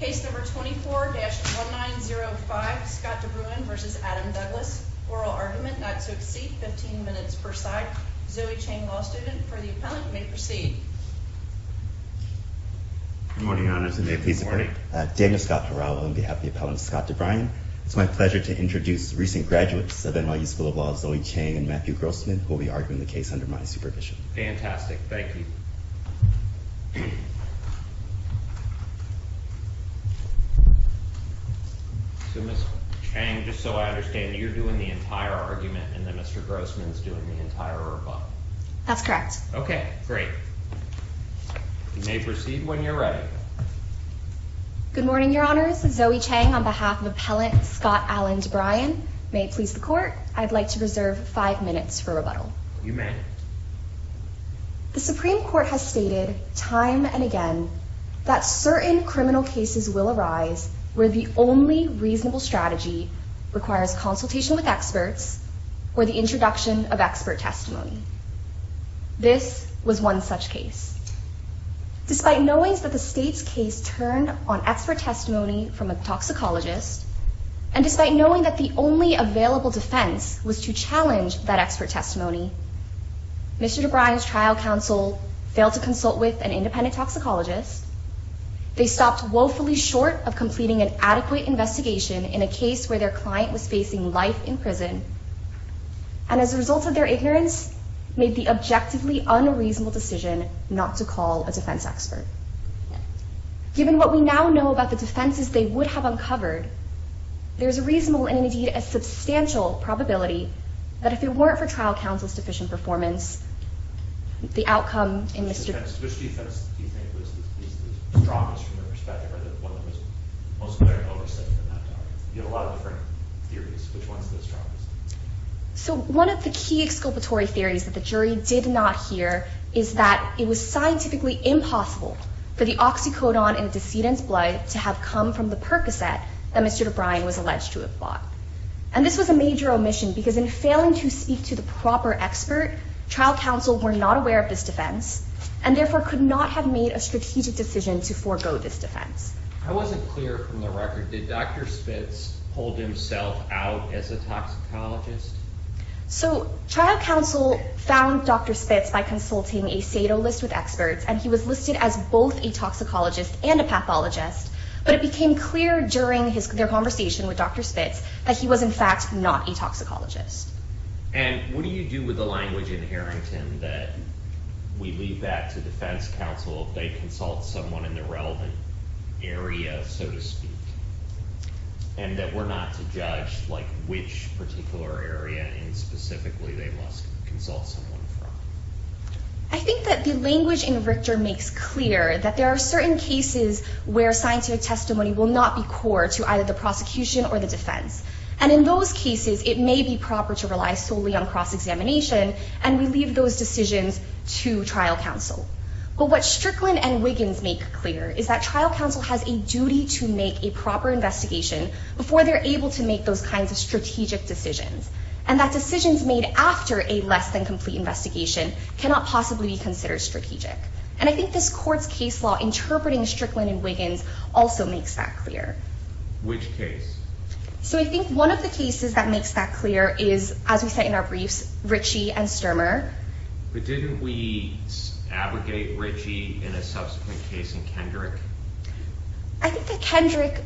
Case number 24-1905, Scott DeBruyn v. Adam Douglas. Oral argument, not to exceed 15 minutes per side. Zoe Chang, law student, for the appellant, may proceed. Good morning, Your Honors. And may it please the Court. Good morning. Daniel Scott Durao on behalf of the appellant Scott DeBruyn. It's my pleasure to introduce recent graduates of NYU School of Law Zoe Chang and Matthew Grossman, who will be arguing the case under my supervision. Fantastic. Thank you. So Ms. Chang, just so I understand, you're doing the entire argument and then Mr. Grossman's doing the entire rebuttal. That's correct. OK, great. You may proceed when you're ready. Good morning, Your Honors. Zoe Chang on behalf of appellant Scott Alan DeBruyn. May it please the Court. I'd like to reserve five minutes for rebuttal. You may. The Supreme Court has stated time and again that certain criminal cases will arise where the only reasonable strategy requires consultation with experts or the introduction of expert testimony. This was one such case. Despite knowing that the state's case turned on expert testimony from a toxicologist, and despite knowing that the only available defense was to challenge that expert testimony, Mr. DeBruyn's trial counsel failed to consult with an independent toxicologist. They stopped woefully short of completing an adequate investigation in a case where their client was facing life in prison. And as a result of their ignorance, made the objectively unreasonable decision not to call a defense expert. Given what we now know about the defenses they would have uncovered, there is a reasonable and indeed a substantial probability that if it weren't for trial counsel's sufficient performance, the outcome in Mr. DeBruyn's case. Which defense do you think was the strongest from your perspective, or the one that was most clearly overstated in that trial? You have a lot of different theories. Which one's the strongest? So one of the key exculpatory theories that the jury did not hear is that it was scientifically impossible for the oxycodone in the decedent's blood to have come from the Percocet that Mr. DeBruyn was alleged to have bought. And this was a major omission, because in failing to speak to the proper expert, trial counsel were not aware of this defense, and therefore could not have made a strategic decision to forego this defense. I wasn't clear from the record, did Dr. Spitz hold himself out as a toxicologist? So trial counsel found Dr. Spitz by consulting a SATO list with experts, and he was listed as both a toxicologist and a pathologist. But it became clear during their conversation with Dr. Spitz that he was, in fact, not a toxicologist. And what do you do with the language in Harrington that we leave that to defense counsel if they consult someone in the relevant area, so to speak, and that we're not to judge which particular area and specifically they must consult someone from? I think that the language in Richter makes clear that there are certain cases where scientific testimony will not be core to either the prosecution or the defense. And in those cases, it may be proper to rely solely on cross-examination, and we leave those decisions to trial counsel. But what Strickland and Wiggins make clear is that trial counsel has a duty to make a proper investigation before they're able to make those kinds of strategic decisions, and that decisions made after a less-than-complete investigation cannot possibly be considered strategic. And I think this court's case law interpreting Strickland and Wiggins also makes that clear. Which case? So I think one of the cases that makes that clear is, as we say in our briefs, Ritchie and Sturmer. But didn't we abrogate Ritchie in a subsequent case in Kendrick? I think that Kendrick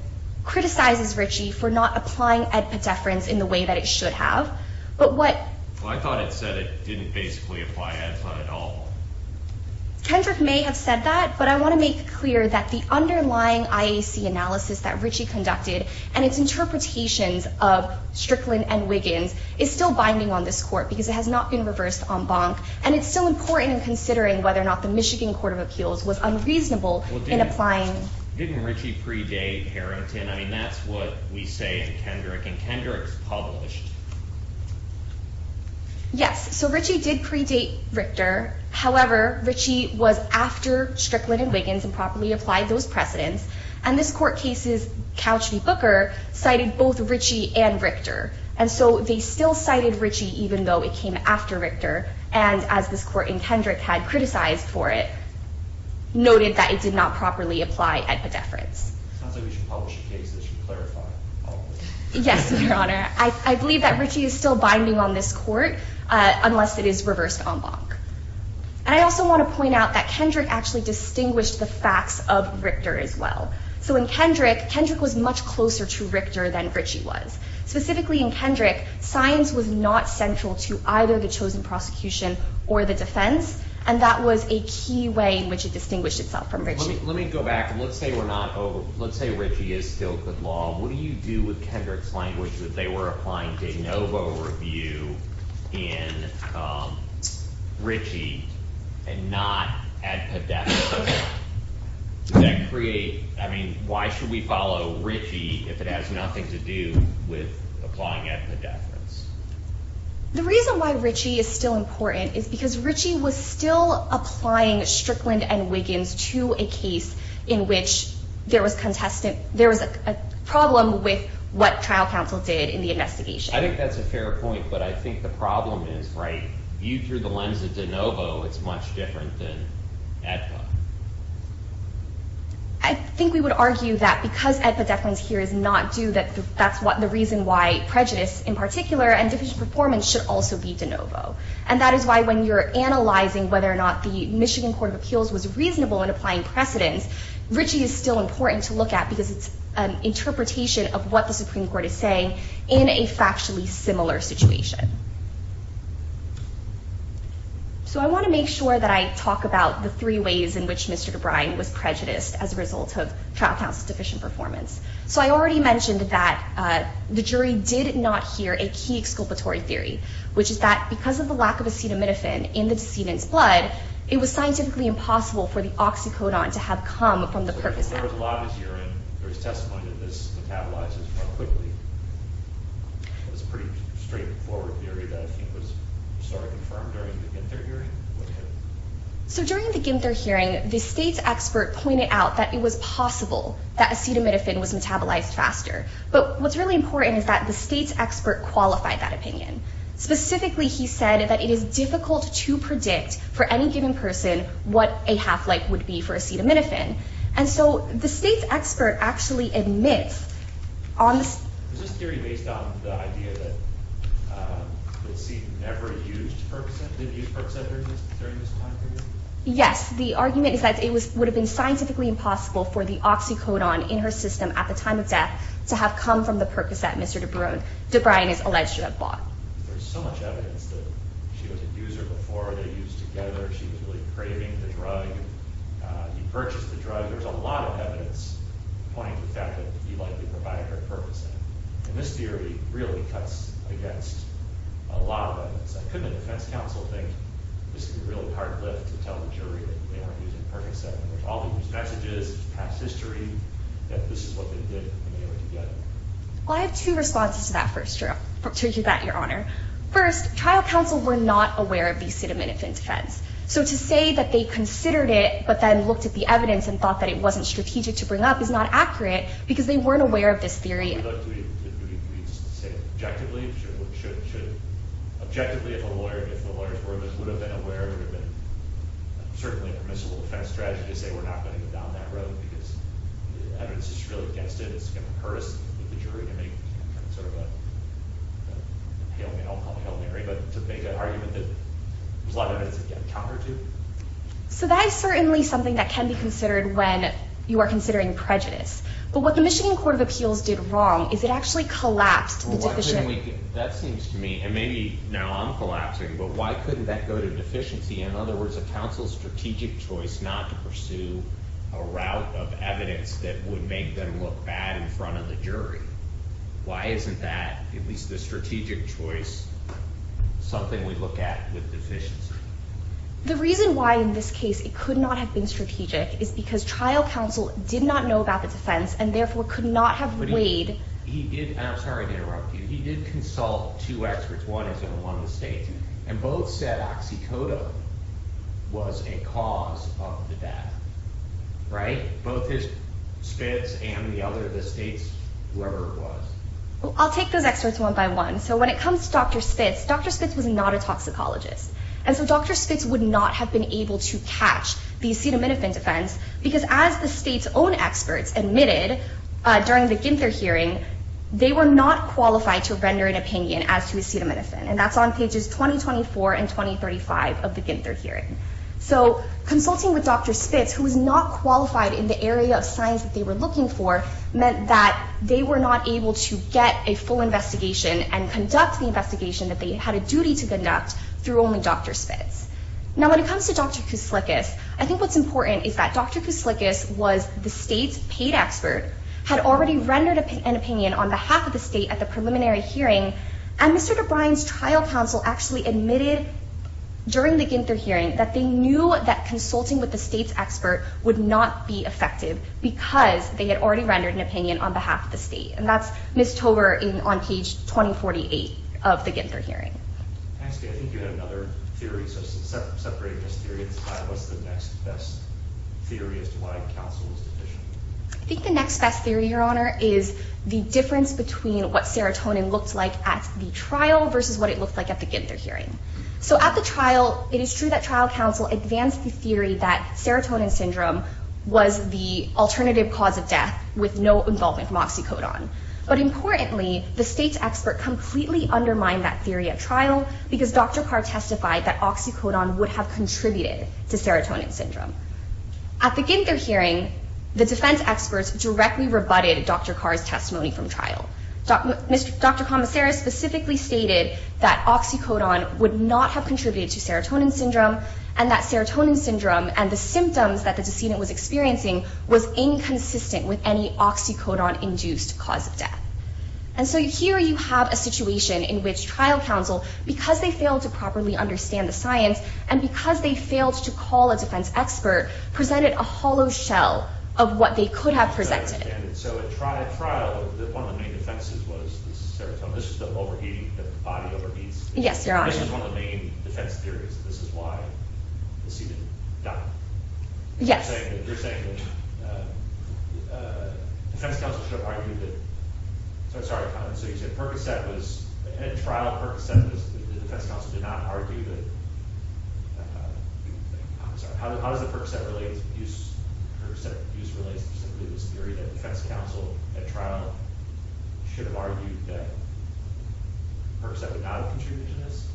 criticizes Ritchie for not applying ed pediferans in the way that it should have. But what? Well, I thought it said it didn't basically apply ed ped at all. Kendrick may have said that, but I want to make clear that the underlying IAC analysis that Ritchie conducted and its interpretations of Strickland and Wiggins is still binding on this court because it has not been reversed en banc. And it's still important in considering whether or not the Michigan Court of Appeals was unreasonable in applying. Didn't Ritchie predate Harrington? I mean, that's what we say in Kendrick. And Kendrick's published. Yes, so Ritchie did predate Richter. However, Ritchie was after Strickland and Wiggins and properly applied those precedents. And this court case's couch debooker cited both Ritchie and Richter. And so they still cited Ritchie, even though it came after Richter. And as this court in Kendrick had criticized for it, noted that it did not properly apply ed pediferans. Sounds like we should publish a case that should clarify it. Yes, Your Honor. I believe that Ritchie is still binding on this court unless it is reversed en banc. And I also want to point out that Kendrick actually distinguished the facts of Richter as well. So in Kendrick, Kendrick was much closer to Richter than Ritchie was. Specifically in Kendrick, science was not central to either the chosen prosecution or the defense. And that was a key way in which it distinguished itself from Ritchie. Let me go back. Let's say we're not over. Let's say Ritchie is still good law. What do you do with Kendrick's language that they were applying de novo review in Ritchie and not ed pediferans? Does that create, I mean, why should we follow Ritchie if it has nothing to do with applying ed pediferans? The reason why Ritchie is still important is because Ritchie was still applying Strickland and Wiggins to a case in which there was a problem with what trial counsel did in the investigation. I think that's a fair point. But I think the problem is, right, through the lens of de novo, it's much different than ed ped. I think we would argue that because ed pediferans here is not due, that that's the reason why prejudice in particular and deficient performance should also be de novo. And that is why when you're analyzing whether or not the Michigan Court of Appeals was reasonable in applying precedence, Ritchie is still important to look at because it's an interpretation of what the Supreme Court is saying in a factually similar situation. So I want to make sure that I talk about the three ways in which Mr. DeBrine was prejudiced as a result of trial counsel's deficient performance. So I already mentioned that the jury did not hear a key exculpatory theory, which is that because of the lack of acetaminophen in the decedent's blood, it was scientifically impossible for the oxycodone to have come from the purpose act. So there was a lot of adhering. There was testimony that this metabolizes more quickly. It was a pretty straightforward theory that was sort of confirmed during the Ginter hearing. So during the Ginter hearing, the state's expert pointed out that it was possible that acetaminophen was metabolized faster. But what's really important is that the state's expert qualified that opinion. Specifically, he said that it is difficult to predict for any given person what a half-life would be for acetaminophen. And so the state's expert actually admits on this theory based on the idea that we'll see never-used Percocet. Did you use Percocet during this time period? Yes. The argument is that it would have been scientifically impossible for the oxycodone in her system at the time of death to have come from the Percocet, Mr. DeBruin is alleged to have bought. There's so much evidence that she was a user before. They used together. She was really craving the drug. He purchased the drug. There's a lot of evidence pointing to the fact that he likely provided her Percocet. And this theory really cuts against a lot of evidence. I couldn't let the defense counsel think this is a really hard left to tell the jury that they weren't using Percocet. There's all these messages, past history, that this is what they did in order to get it. Well, I have two responses to that first, to that, Your Honor. First, trial counsel were not aware of the acetaminophen defense. So to say that they considered it, but then looked at the evidence and thought that it wasn't strategic to bring up is not accurate, because they weren't aware of this theory. Do we say objectively, objectively, if the lawyers would have been aware, it would have been certainly a permissible defense strategy to say we're not going to go down that road, because the evidence is really against it. It's going to hurt us, the jury, to make sort of a hail Mary, but to make an argument that there's a lot of evidence that you have to counter to. So that is certainly something that can be considered when you are considering prejudice. But what the Michigan Court of Appeals did wrong is it actually collapsed the deficient. That seems to me, and maybe now I'm collapsing, but why couldn't that go to deficiency? In other words, a counsel's strategic choice not to pursue a route of evidence that would make them look bad in front of the jury. Why isn't that, at least the strategic choice, something we look at with deficiency? The reason why, in this case, it could not have been strategic is because trial counsel did not know about the defense and therefore could not have weighed. He did, and I'm sorry to interrupt you, he did consult two experts, one is in one of the states, and both said oxycodone was a cause of the death, right? Both his spits and the other of the states, whoever it was. I'll take those experts one by one. So when it comes to Dr. Spitz, Dr. Spitz was not a toxicologist. And so Dr. Spitz would not have been able to catch the acetaminophen defense because as the state's own experts admitted during the Ginther hearing, they were not qualified to render an opinion as to acetaminophen. And that's on pages 2024 and 2035 of the Ginther hearing. So consulting with Dr. Spitz, who was not qualified in the area of science that they were looking for, meant that they were not able to get a full investigation and conduct the investigation that they had a duty to conduct through only Dr. Spitz. Now, when it comes to Dr. Kouslikas, I think what's important is that Dr. Kouslikas was the state's paid expert, had already rendered an opinion on behalf of the state at the preliminary hearing, and Mr. DeBrine's trial counsel actually admitted during the Ginther hearing that they knew that consulting with the state's expert would not be effective because they had already rendered an opinion on behalf of the state. And that's Ms. Tover on page 2048 of the Ginther hearing. I'm asking, I think you had another theory, so separating those theories, what's the next best theory as to why counsel was deficient? I think the next best theory, Your Honor, is the difference between what serotonin looks like at the trial versus what it looked like at the Ginther hearing. So at the trial, it is true that trial counsel advanced the theory that serotonin syndrome was the alternative cause of death with no involvement from oxycodone. But importantly, the state's expert completely undermined that theory at trial because Dr. Carr testified that oxycodone would have contributed to serotonin syndrome. At the Ginther hearing, the defense experts directly rebutted Dr. Carr's testimony from trial. Dr. Commisera specifically stated that oxycodone would not have contributed to serotonin syndrome, and that serotonin syndrome and the symptoms that the decedent was experiencing was inconsistent with any oxycodone-induced cause of death. And so here, you have a situation in which trial counsel, because they failed to properly understand the science, and because they failed to call a defense expert, presented a hollow shell of what they could have presented. So at trial, one of the main offenses was the serotonin. This is the overheating, the body overheats. Yes, Your Honor. This is one of the main defense theories. This is why the decedent died. Yes. You're saying that defense counsel should have argued that, so I'm sorry, so you're saying Percocet was, at trial, Percocet, the defense counsel, did not argue that, I'm sorry, how does the Percocet use relate specifically to this theory that defense counsel, at trial, should have argued that Percocet would not have contributed to this?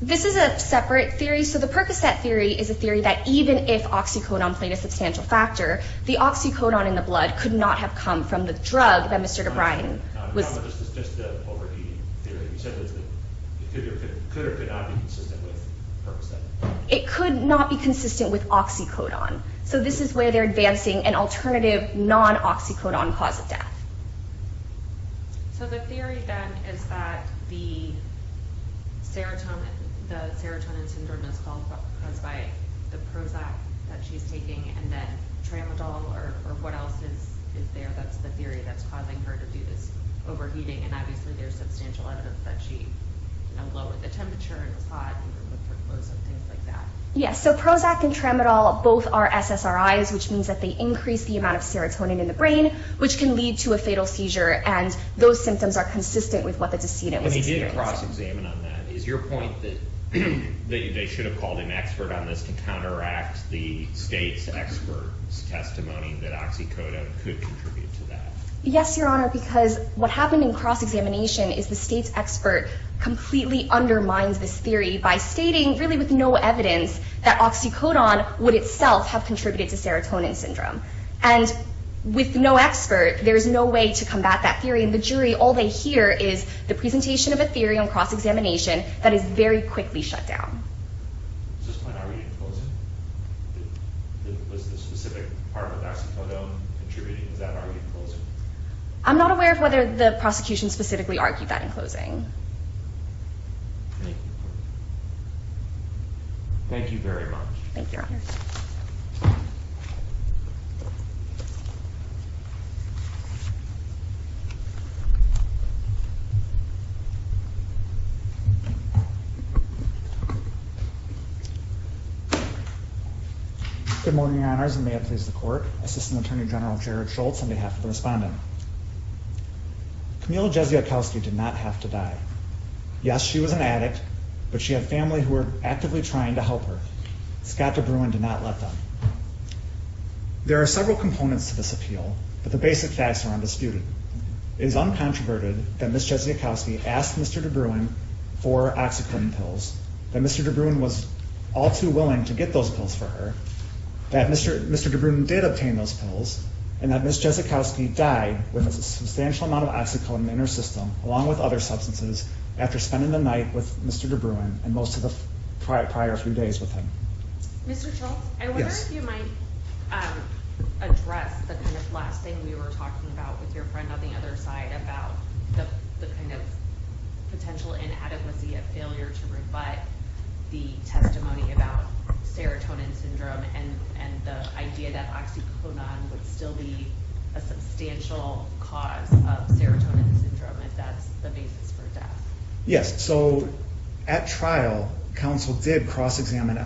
This is a separate theory. So the Percocet theory is a theory that even if oxycodone played a substantial factor, the oxycodone in the blood could not have come from the drug that Mr. DeBriene was. No, this is just the overheating theory. You said that it could or could not be consistent with Percocet. It could not be consistent with oxycodone. So this is where they're advancing an alternative non-oxycodone cause of death. So the theory then is that the serotonin syndrome is caused by the Prozac that she's taking and that Tramadol or what else is there that's the theory that's causing her to do this overheating and obviously there's substantial evidence that she lowered the temperature and was hot even with her clothes on, things like that. Yes, so Prozac and Tramadol both are SSRIs, which means that they increase the amount of serotonin in the brain, which can lead to a fatal seizure and those symptoms are consistent with what the decedent was experiencing. And he did cross-examine on that. Is your point that they should have called an expert on this to counteract the state's expert's testimony that oxycodone could contribute to that? Yes, Your Honor, because what happened in cross-examination is the state's expert completely undermines this theory by stating really with no evidence that oxycodone would itself have contributed to serotonin syndrome. And with no expert, there's no way to combat that theory and the jury, all they hear is the presentation of a theory on cross-examination that is very quickly shut down. Is this point already closed? Was the specific part of oxycodone contributing to that argument in closing? I'm not aware of whether the prosecution specifically argued that in closing. Thank you very much. Thank you, Your Honor. Good morning, Your Honors, and may it please the court, Assistant Attorney General Jared Schultz on behalf of the respondent. Camille Jeziakowski did not have to die. Yes, she was an addict, but she had family who were actively trying to help her. Scott DeBruin did not let them. There are several components to this appeal, but the basic facts are undisputed. It is uncontroverted that Ms. Jeziakowski asked Mr. DeBruin for oxycodone pills, that Mr. DeBruin was all too willing to get those pills for her, that Mr. DeBruin did obtain those pills, and that Ms. Jeziakowski died with a substantial amount of oxycodone in her system, along with other substances, after spending the night with Mr. DeBruin and most of the prior few days with him. Mr. Schultz, I wonder if you might address the kind of last thing we were talking about with your friend on the other side about the kind of potential inadequacy and failure to rebut the testimony about serotonin syndrome and the idea that oxycodone would still be a substantial cause of serotonin syndrome if that's the basis for death. Yes, so at trial, counsel did cross-examine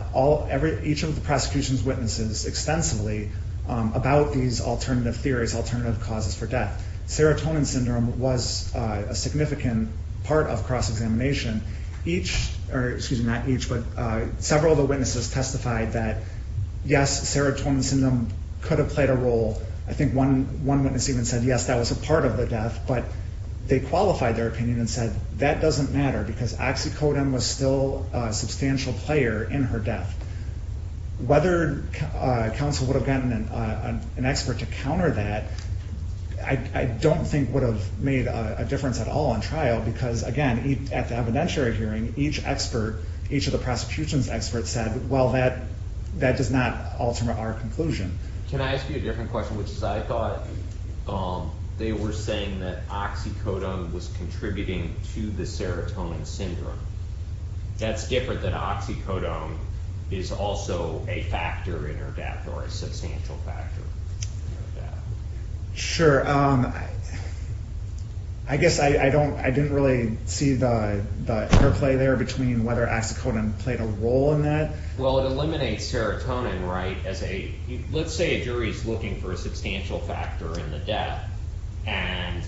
each of the prosecution's witnesses extensively about these alternative theories, alternative causes for death. Serotonin syndrome was a significant part of cross-examination. Each, or excuse me, not each, but several of the witnesses testified that yes, serotonin syndrome could have played a role. I think one witness even said, yes, that was a part of the death, but they qualified their opinion and said, that doesn't matter because oxycodone was still a substantial player in her death. Whether counsel would have gotten an expert to counter that, I don't think would have made a difference at all in trial, because again, at the evidentiary hearing, each expert, each of the prosecution's experts said, well, that does not alter our conclusion. Can I ask you a different question, which is I thought they were saying that oxycodone was contributing to the serotonin syndrome. That's different than oxycodone is also a factor in her death, or a substantial factor in her death. Sure. I guess I didn't really see the interplay there between whether oxycodone played a role in that. Well, it eliminates serotonin, right, as a, let's say a jury's looking for a substantial factor in the death, and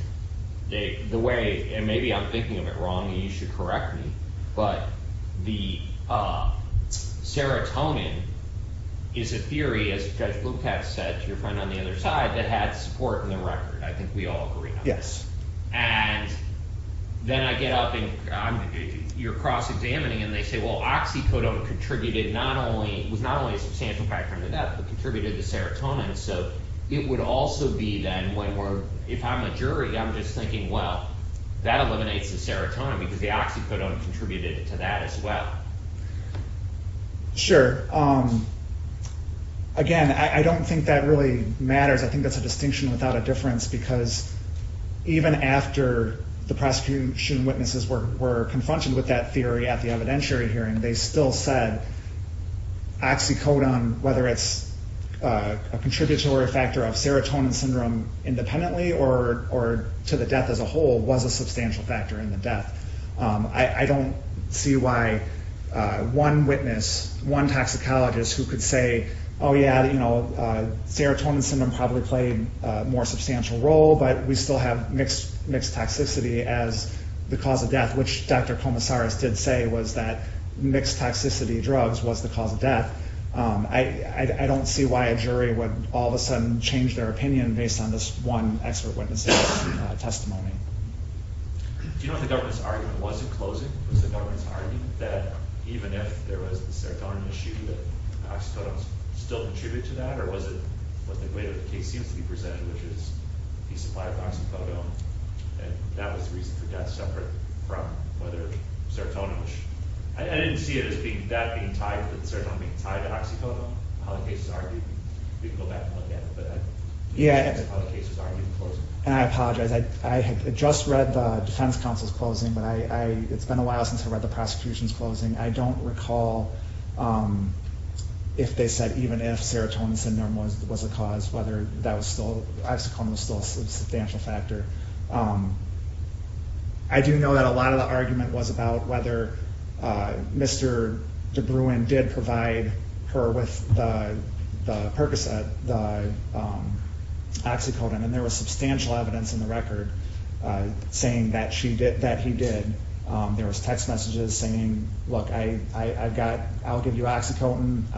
the way, and maybe I'm thinking of it wrong, and you should correct me, but the serotonin is a theory, as Judge Lukacs said to your friend on the other side, that had support in the record. I think we all agree on that. And then I get up, and you're cross-examining, and they say, well, oxycodone contributed not only, was not only a substantial factor in the death, but contributed to serotonin, so it would also be then, when we're, if I'm a jury, I'm just thinking, well, that eliminates the serotonin, because the oxycodone contributed to that as well. Sure. Again, I don't think that really matters. I think that's a distinction without a difference, because even after the prosecution witnesses were confronted with that theory at the evidentiary hearing, they still said oxycodone, whether it's a contributory factor of serotonin syndrome independently, or to the death as a whole, was a substantial factor in the death. I don't see why one witness, one toxicologist, who could say, oh yeah, you know, serotonin syndrome probably played a more substantial role, but we still have mixed toxicity as the cause of death, which Dr. Komisaris did say was that mixed toxicity drugs was the cause of death. I don't see why a jury would all of a sudden change their opinion based on this one expert witness's testimony. Do you know if the government's argument wasn't closing? Was the government's argument that even if there was the serotonin issue, that oxycodone still contributed to that, or was it what the way the case seems to be presented, which is he supplied with oxycodone, and that was the reason for death, separate from whether serotonin was, I didn't see it as that being tied, that serotonin being tied to oxycodone, how the case is argued. We can go back and look at it, but I didn't see how the case was argued in closing. And I apologize, I had just read the defense counsel's closing, but it's been a while since I read the prosecution's closing. I don't recall if they said even if serotonin syndrome was a cause, whether that was still, oxycodone was still a substantial factor. I do know that a lot of the argument was about whether Mr. DeBruin did provide her with the Percocet, the oxycodone, and there was substantial evidence in the record saying that he did. There was text messages saying, look, I've got, I'll give you oxycodone,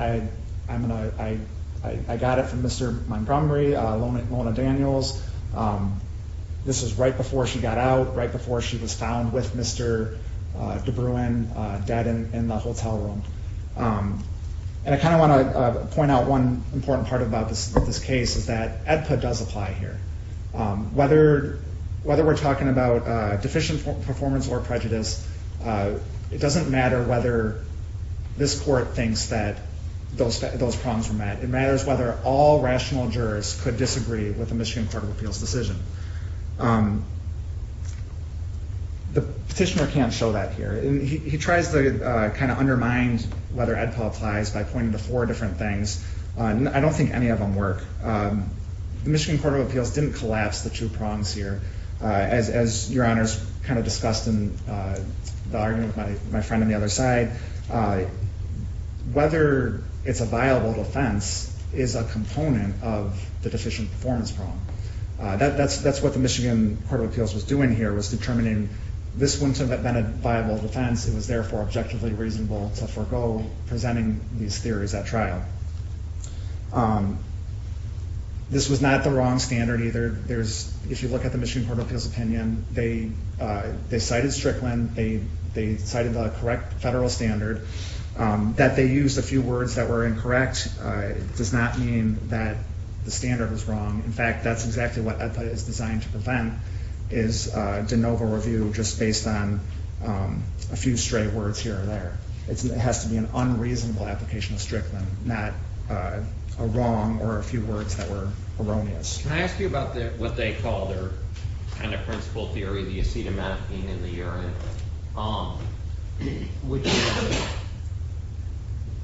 I got it from Mr. Montgomery, Lola Daniels. This was right before she got out, right before she was found with Mr. DeBruin dead in the hotel room. And I kind of want to point out one important part about this case is that EDPA does apply here. Whether we're talking about deficient performance or prejudice, it doesn't matter whether this court thinks that those prongs were met. It matters whether all rational jurors could disagree with the Michigan Court of Appeals' decision. The petitioner can't show that here. He tries to kind of undermine whether EDPA applies by pointing to four different things. I don't think any of them work. The Michigan Court of Appeals didn't collapse the two prongs here. As Your Honors kind of discussed in the argument with my friend on the other side, whether it's a viable defense is a component of the deficient performance prong. That's what the Michigan Court of Appeals was doing here, was determining this wouldn't have been a viable defense, it was therefore objectively reasonable to forego presenting these theories at trial. This was not the wrong standard either. If you look at the Michigan Court of Appeals' opinion, they cited Strickland, they cited the correct federal standard. That they used a few words that were incorrect does not mean that the standard was wrong. In fact, that's exactly what EDPA is designed to prevent, is de novo review just based on a few straight words here or there. It has to be an unreasonable application of Strickland, not a wrong or a few words that were erroneous. Can I ask you about what they called their kind of principle theory, the acetaminophene in the urine?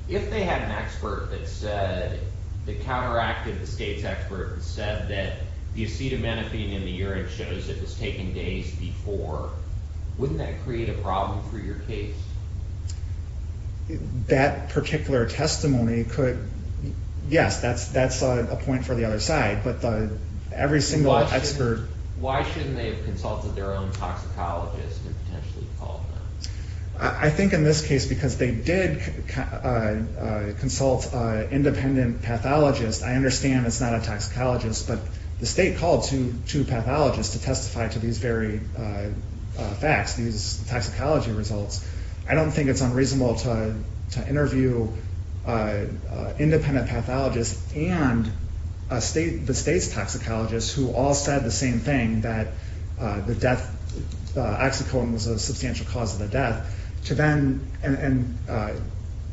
If they had an expert that said, the counteracted the state's expert and said that the acetaminophene in the urine shows it has taken days before, wouldn't that create a problem for your case? That particular testimony could, yes, that's a point for the other side, but every single expert. Why shouldn't they have consulted their own toxicologist and potentially called them? I think in this case, because they did consult an independent pathologist. I understand it's not a toxicologist, but the state called two pathologists to testify to these very facts, these toxicology results. I don't think it's unreasonable to interview an independent pathologist and the state's toxicologist who all said the same thing that the death, oxycodone was a substantial cause of the death to then, and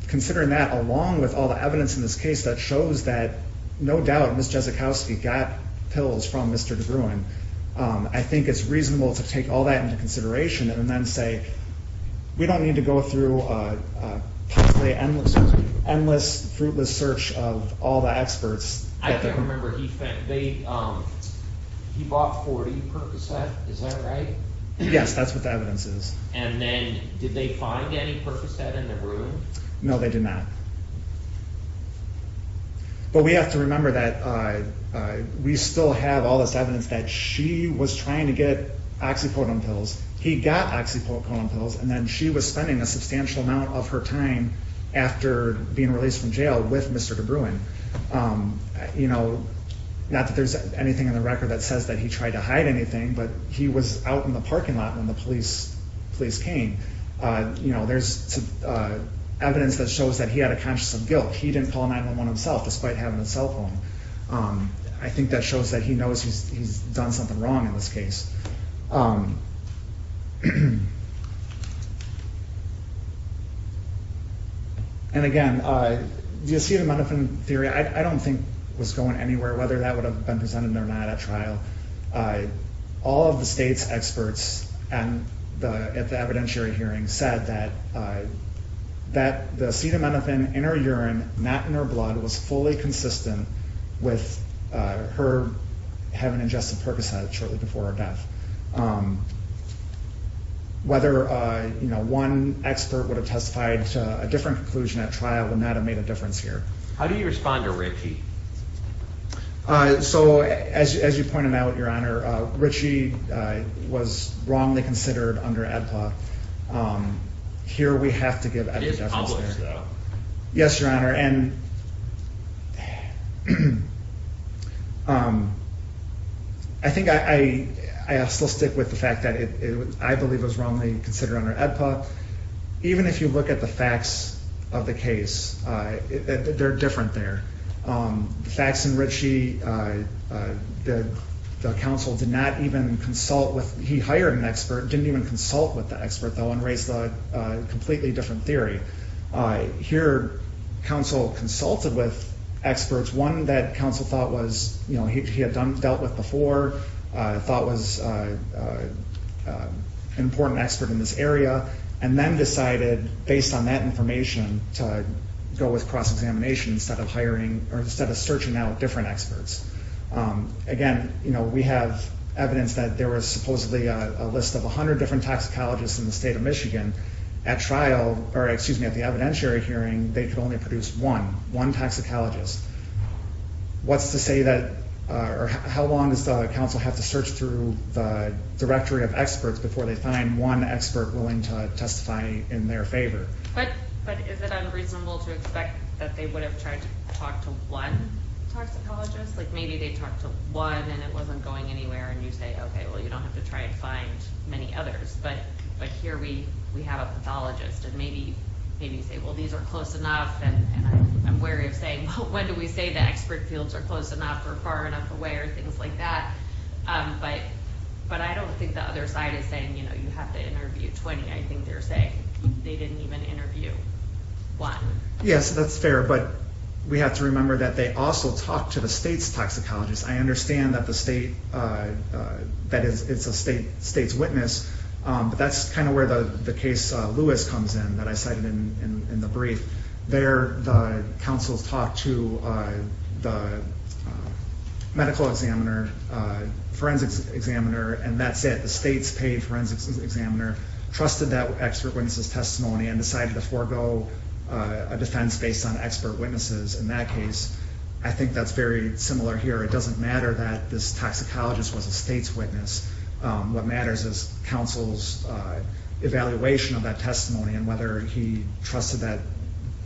considering that along with all the evidence in this case that shows that no doubt, Ms. Jezikowski got pills from Mr. DeGruen. I think it's reasonable to take all that into consideration and then say, we don't need to go through an endless fruitless search of all the experts. I can't remember, he bought 40 Percocet, is that right? Yes, that's what the evidence is. And then did they find any Percocet in the room? No, they did not. But we have to remember that we still have all this evidence that she was trying to get oxycodone pills. He got oxycodone pills, and then she was spending a substantial amount of her time after being released from jail with Mr. DeGruen. Not that there's anything in the record that says that he tried to hide anything, but he was out in the parking lot when the police came. There's evidence that shows that he had a conscience of guilt. He didn't call 911 himself despite having a cell phone. I think that shows that he knows he's done something wrong in this case. And again, the acetaminophen theory, I don't think was going anywhere, whether that would have been presented or not at trial. All of the state's experts at the evidentiary hearing said that the acetaminophen in her urine, not in her blood, was fully consistent with her having ingested Percocet shortly before her death. Whether one expert would have testified to a different conclusion at trial would not have made a difference here. How do you respond to Ritchie? So as you pointed out, Your Honor, Ritchie was wrongly considered under AEDPA. Here we have to give evidence. It is published, though. Yes, Your Honor, and... I think I'll still stick with the fact that I believe it was wrongly considered under AEDPA. Even if you look at the facts of the case, they're different there. The facts in Ritchie, the counsel did not even consult with, he hired an expert, didn't even consult with the expert, though, and raised a completely different theory. Here, counsel consulted with experts, one that counsel thought was, you know, he had dealt with before, thought was an important expert in this area, and then decided, based on that information, to go with cross-examination instead of hiring, or instead of searching out different experts. Again, you know, we have evidence that there was supposedly a list of 100 different toxicologists in the state of Michigan. At trial, or excuse me, at the evidentiary hearing, they could only produce one, one toxicologist. What's to say that, or how long does the counsel have to search through the directory of experts before they find one expert willing to testify in their favor? But is it unreasonable to expect that they would have tried to talk to one toxicologist? Like, maybe they talked to one, and it wasn't going anywhere, and you say, okay, well, you don't have to try and find many others, but here we have a pathologist, and maybe you say, well, these are close enough, and I'm wary of saying, well, when do we say the expert fields are close enough, or far enough away, or things like that. But I don't think the other side is saying, you know, you have to interview 20. I think they're saying they didn't even interview one. Yes, that's fair, but we have to remember that they also talked to the state's toxicologists. I understand that the state, that it's a state's witness, but that's kind of where the case Lewis comes in, that I cited in the brief. There, the counsels talked to the medical examiner, forensics examiner, and that's it. The state's paid forensics examiner trusted that expert witness's testimony and decided to forego a defense based on expert witnesses in that case. I think that's very similar here. It doesn't matter that this toxicologist was a state's witness. What matters is counsel's evaluation of that testimony, and whether he trusted that,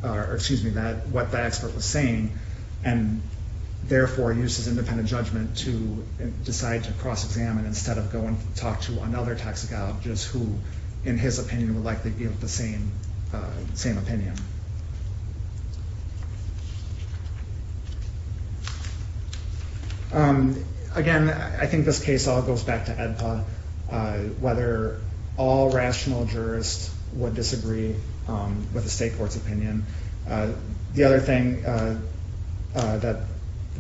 or excuse me, that what that expert was saying, and therefore used his independent judgment to decide to cross-examine instead of go and talk to another toxicologist who, in his opinion, would likely give the same opinion. Again, I think this case all goes back to AEDPA, whether all rational jurists would disagree with the state court's opinion. The other thing that the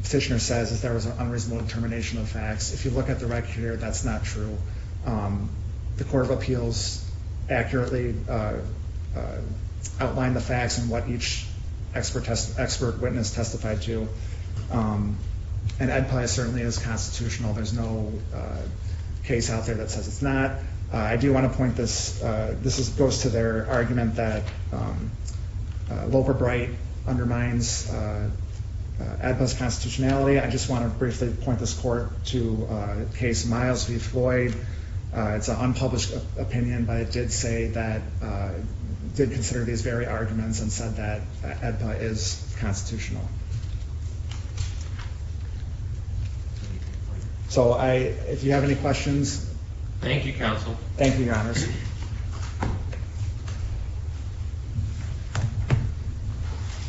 petitioner says is there was an unreasonable determination of facts. If you look at the record here, that's not true. The Court of Appeals accurately outlined the facts and what each expert witness testified to, and AEDPA certainly is constitutional. There's no case out there that says it's not. I do want to point this, this goes to their argument that Loper-Bright undermines AEDPA's constitutionality. I just want to briefly point this court to Case Miles v. Floyd. It's an unpublished opinion, but it did say that, did consider these very arguments and said that AEDPA is constitutional. So I, if you have any questions. Thank you, Counsel. Thank you, Your Honors.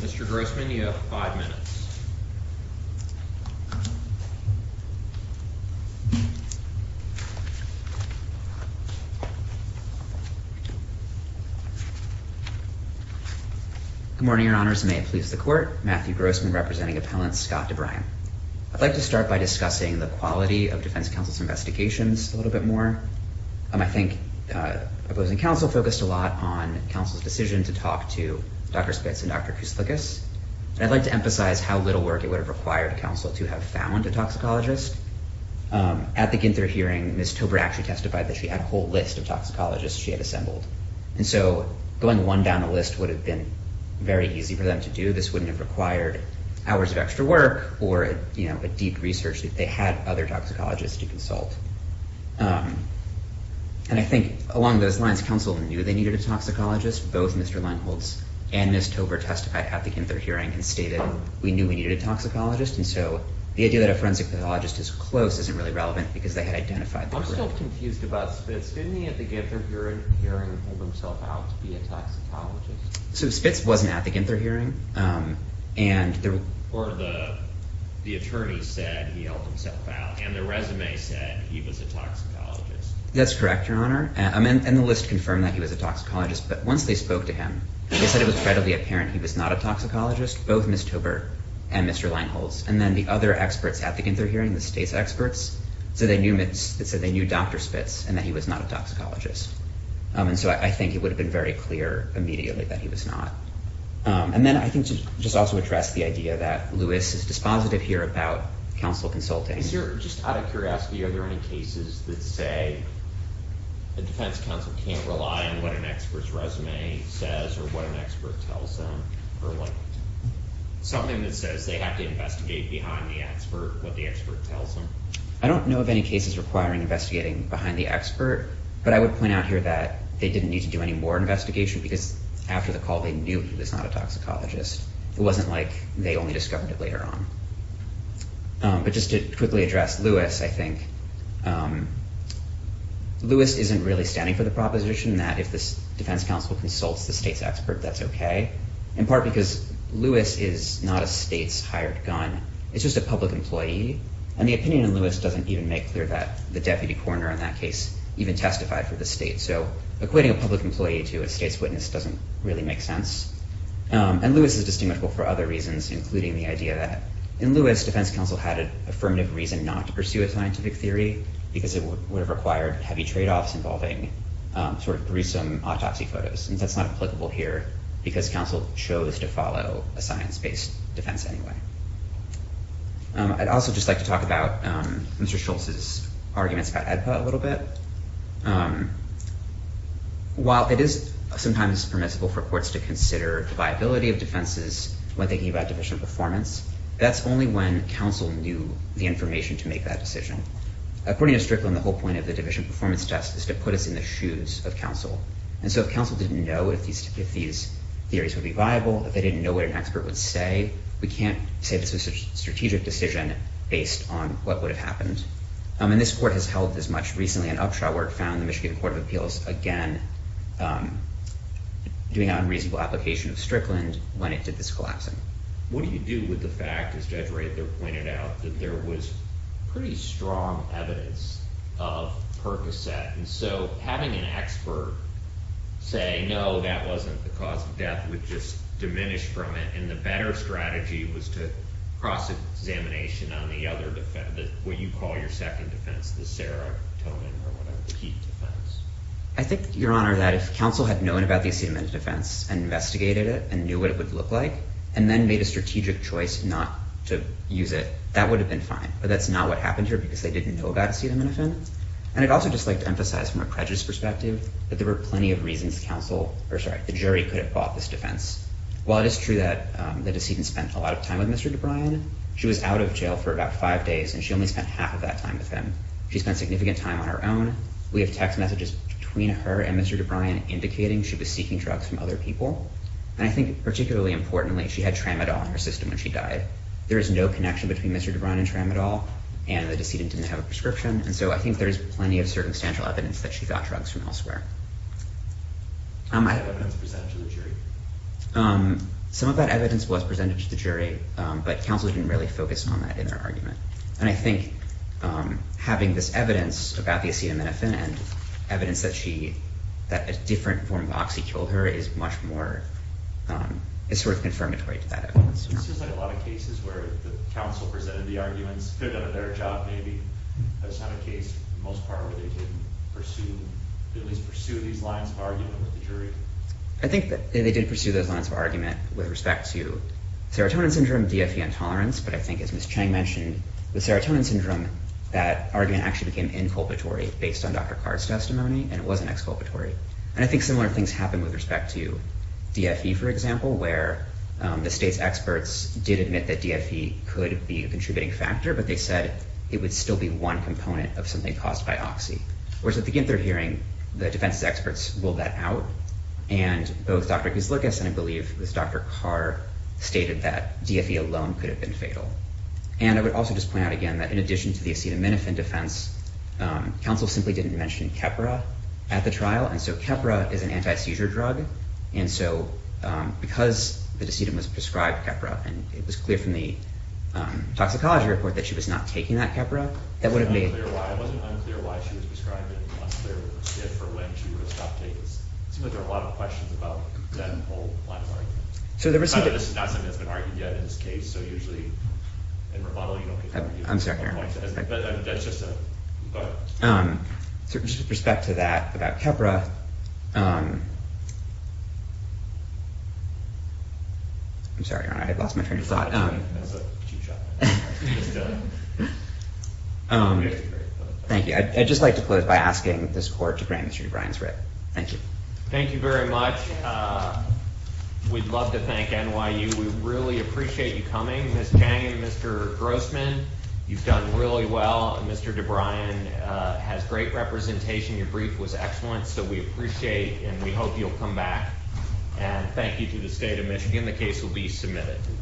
Mr. Grossman, you have five minutes. Good morning, Your Honors. May it please the Court. Matthew Grossman representing Appellant Scott DeBriene. I'd like to start by discussing the quality of defense counsel's investigations a little bit more. I think opposing counsel focused a lot on counsel's decision to talk to Dr. Spitz and Dr. Kouslikas. I'd like to emphasize how little work it would have required counsel to have found a toxicologist. At the Ginther hearing, Ms. Tober actually testified that she had a whole list of toxicologists she had assembled. And so going one down the list would have been very easy for them to do. This wouldn't have required hours of extra work or a deep research if they had other toxicologists to consult. And I think along those lines, counsel knew they needed a toxicologist. Both Mr. Leinholz and Ms. Tober testified at the Ginther hearing and stated we knew we needed a toxicologist. And so the idea that a forensic pathologist is close isn't really relevant because they had identified the group. I'm still confused about Spitz. Didn't he at the Ginther hearing hold himself out to be a toxicologist? So Spitz wasn't at the Ginther hearing. And the- Or the attorney said he held himself out and the resume said he was a toxicologist. That's correct, your honor. And the list confirmed that he was a toxicologist. But once they spoke to him, they said it was readily apparent he was not a toxicologist, both Ms. Tober and Mr. Leinholz. And then the other experts at the Ginther hearing, the state's experts, said they knew Dr. Spitz and that he was not a toxicologist. And so I think it would have been very clear immediately that he was not. And then I think to just also address the idea that Lewis is dispositive here about counsel consulting. Is there, just out of curiosity, are there any cases that say the defense counsel can't rely on what an expert's resume says or what an expert tells them? Or like something that says they have to investigate behind the expert, what the expert tells them? I don't know of any cases requiring investigating behind the expert, but I would point out here that they didn't need to do any more investigation because after the call, they knew he was not a toxicologist. It wasn't like they only discovered it later on. But just to quickly address Lewis, I think, Lewis isn't really standing for the proposition that if this defense counsel consults the state's expert, that's okay. In part because Lewis is not a state's hired gun. It's just a public employee. And the opinion in Lewis doesn't even make clear that the deputy coroner in that case even testified for the state. So equating a public employee to a state's witness doesn't really make sense. And Lewis is distinguishable for other reasons, including the idea that in Lewis, defense counsel had an affirmative reason not to pursue a scientific theory because it would have required heavy trade-offs involving sort of gruesome autopsy photos. And that's not applicable here because counsel chose to follow a science-based defense anyway. I'd also just like to talk about Mr. Schultz's arguments about AEDPA a little bit. But while it is sometimes permissible for courts to consider the viability of defenses when thinking about division performance, that's only when counsel knew the information to make that decision. According to Strickland, the whole point of the division performance test is to put us in the shoes of counsel. And so if counsel didn't know if these theories would be viable, if they didn't know what an expert would say, we can't say this was a strategic decision based on what would have happened. And this court has held as much recently in Upshot where it found the Michigan Court of Appeals again doing an unreasonable application of Strickland when it did this collapsing. What do you do with the fact, as Judge Rather pointed out, that there was pretty strong evidence of Percocet? And so having an expert say, no, that wasn't the cause of death, would just diminish from it. And the better strategy was to cross-examination on the other, what you call your second defense, the Sarah Toman or whatever, the Keith defense. I think, Your Honor, that if counsel had known about the acetamin defense and investigated it and knew what it would look like and then made a strategic choice not to use it, that would have been fine. But that's not what happened here because they didn't know about acetamin offense. And I'd also just like to emphasize from a prejudice perspective that there were plenty of reasons counsel, or sorry, the jury could have bought this defense. While it is true that the decedent spent a lot of time with Mr. DeBryan, she was out of jail for about five days and she only spent half of that time with him. She spent significant time on her own. We have text messages between her and Mr. DeBryan indicating she was seeking drugs from other people. And I think particularly importantly, she had Tramadol in her system when she died. There is no connection between Mr. DeBryan and Tramadol and the decedent didn't have a prescription. And so I think there's plenty of circumstantial evidence that she got drugs from elsewhere. I have evidence presented to the jury. Some of that evidence was presented to the jury, but counsel didn't really focus on that in their argument. And I think having this evidence about the acetaminophen and evidence that a different form of Oxy killed her is much more, it's sort of confirmatory to that evidence. It seems like a lot of cases where the counsel presented the arguments, could have done a better job maybe. That's not a case in most part where they didn't pursue, at least pursue these lines of argument with the jury. I think that they did pursue those lines of argument with respect to serotonin syndrome, DFE intolerance, but I think as Ms. Chang mentioned, the serotonin syndrome, that argument actually became inculpatory based on Dr. Carr's testimony and it wasn't exculpatory. And I think similar things happen with respect to DFE, for example, where the state's experts did admit that DFE could be a contributing factor, but they said it would still be one component of something caused by Oxy. Whereas at the Ginthard hearing, the defense's experts ruled that out. And both Dr. Gislukas and I believe it was Dr. Carr stated that DFE alone could have been fatal. And I would also just point out again that in addition to the acetaminophen defense, counsel simply didn't mention Keppra at the trial. And so Keppra is an anti-seizure drug. And so because the decedent was prescribed Keppra and it was clear from the toxicology report that she was not taking that Keppra, that would have made- It wasn't unclear why she was prescribed it and it wasn't clear for when she would have stopped taking it. It seems like there are a lot of questions about that whole line of argument. So there was- This is not something that's been argued yet in this case. So usually in rebuttal, you don't get- I'm sorry. But that's just a thought. So just with respect to that, about Keppra. I'm sorry, I lost my train of thought. That's a cheap shot. Thank you. I'd just like to close by asking this court to grant Mr. O'Brien's writ. Thank you. Thank you very much. We'd love to thank NYU. We really appreciate you coming. Ms. Chang and Mr. Grossman, you've done really well. And Mr. O'Brien has great representation. Your brief was excellent. So we appreciate and we hope you'll come back and thank you to the state of Michigan. The case will be submitted.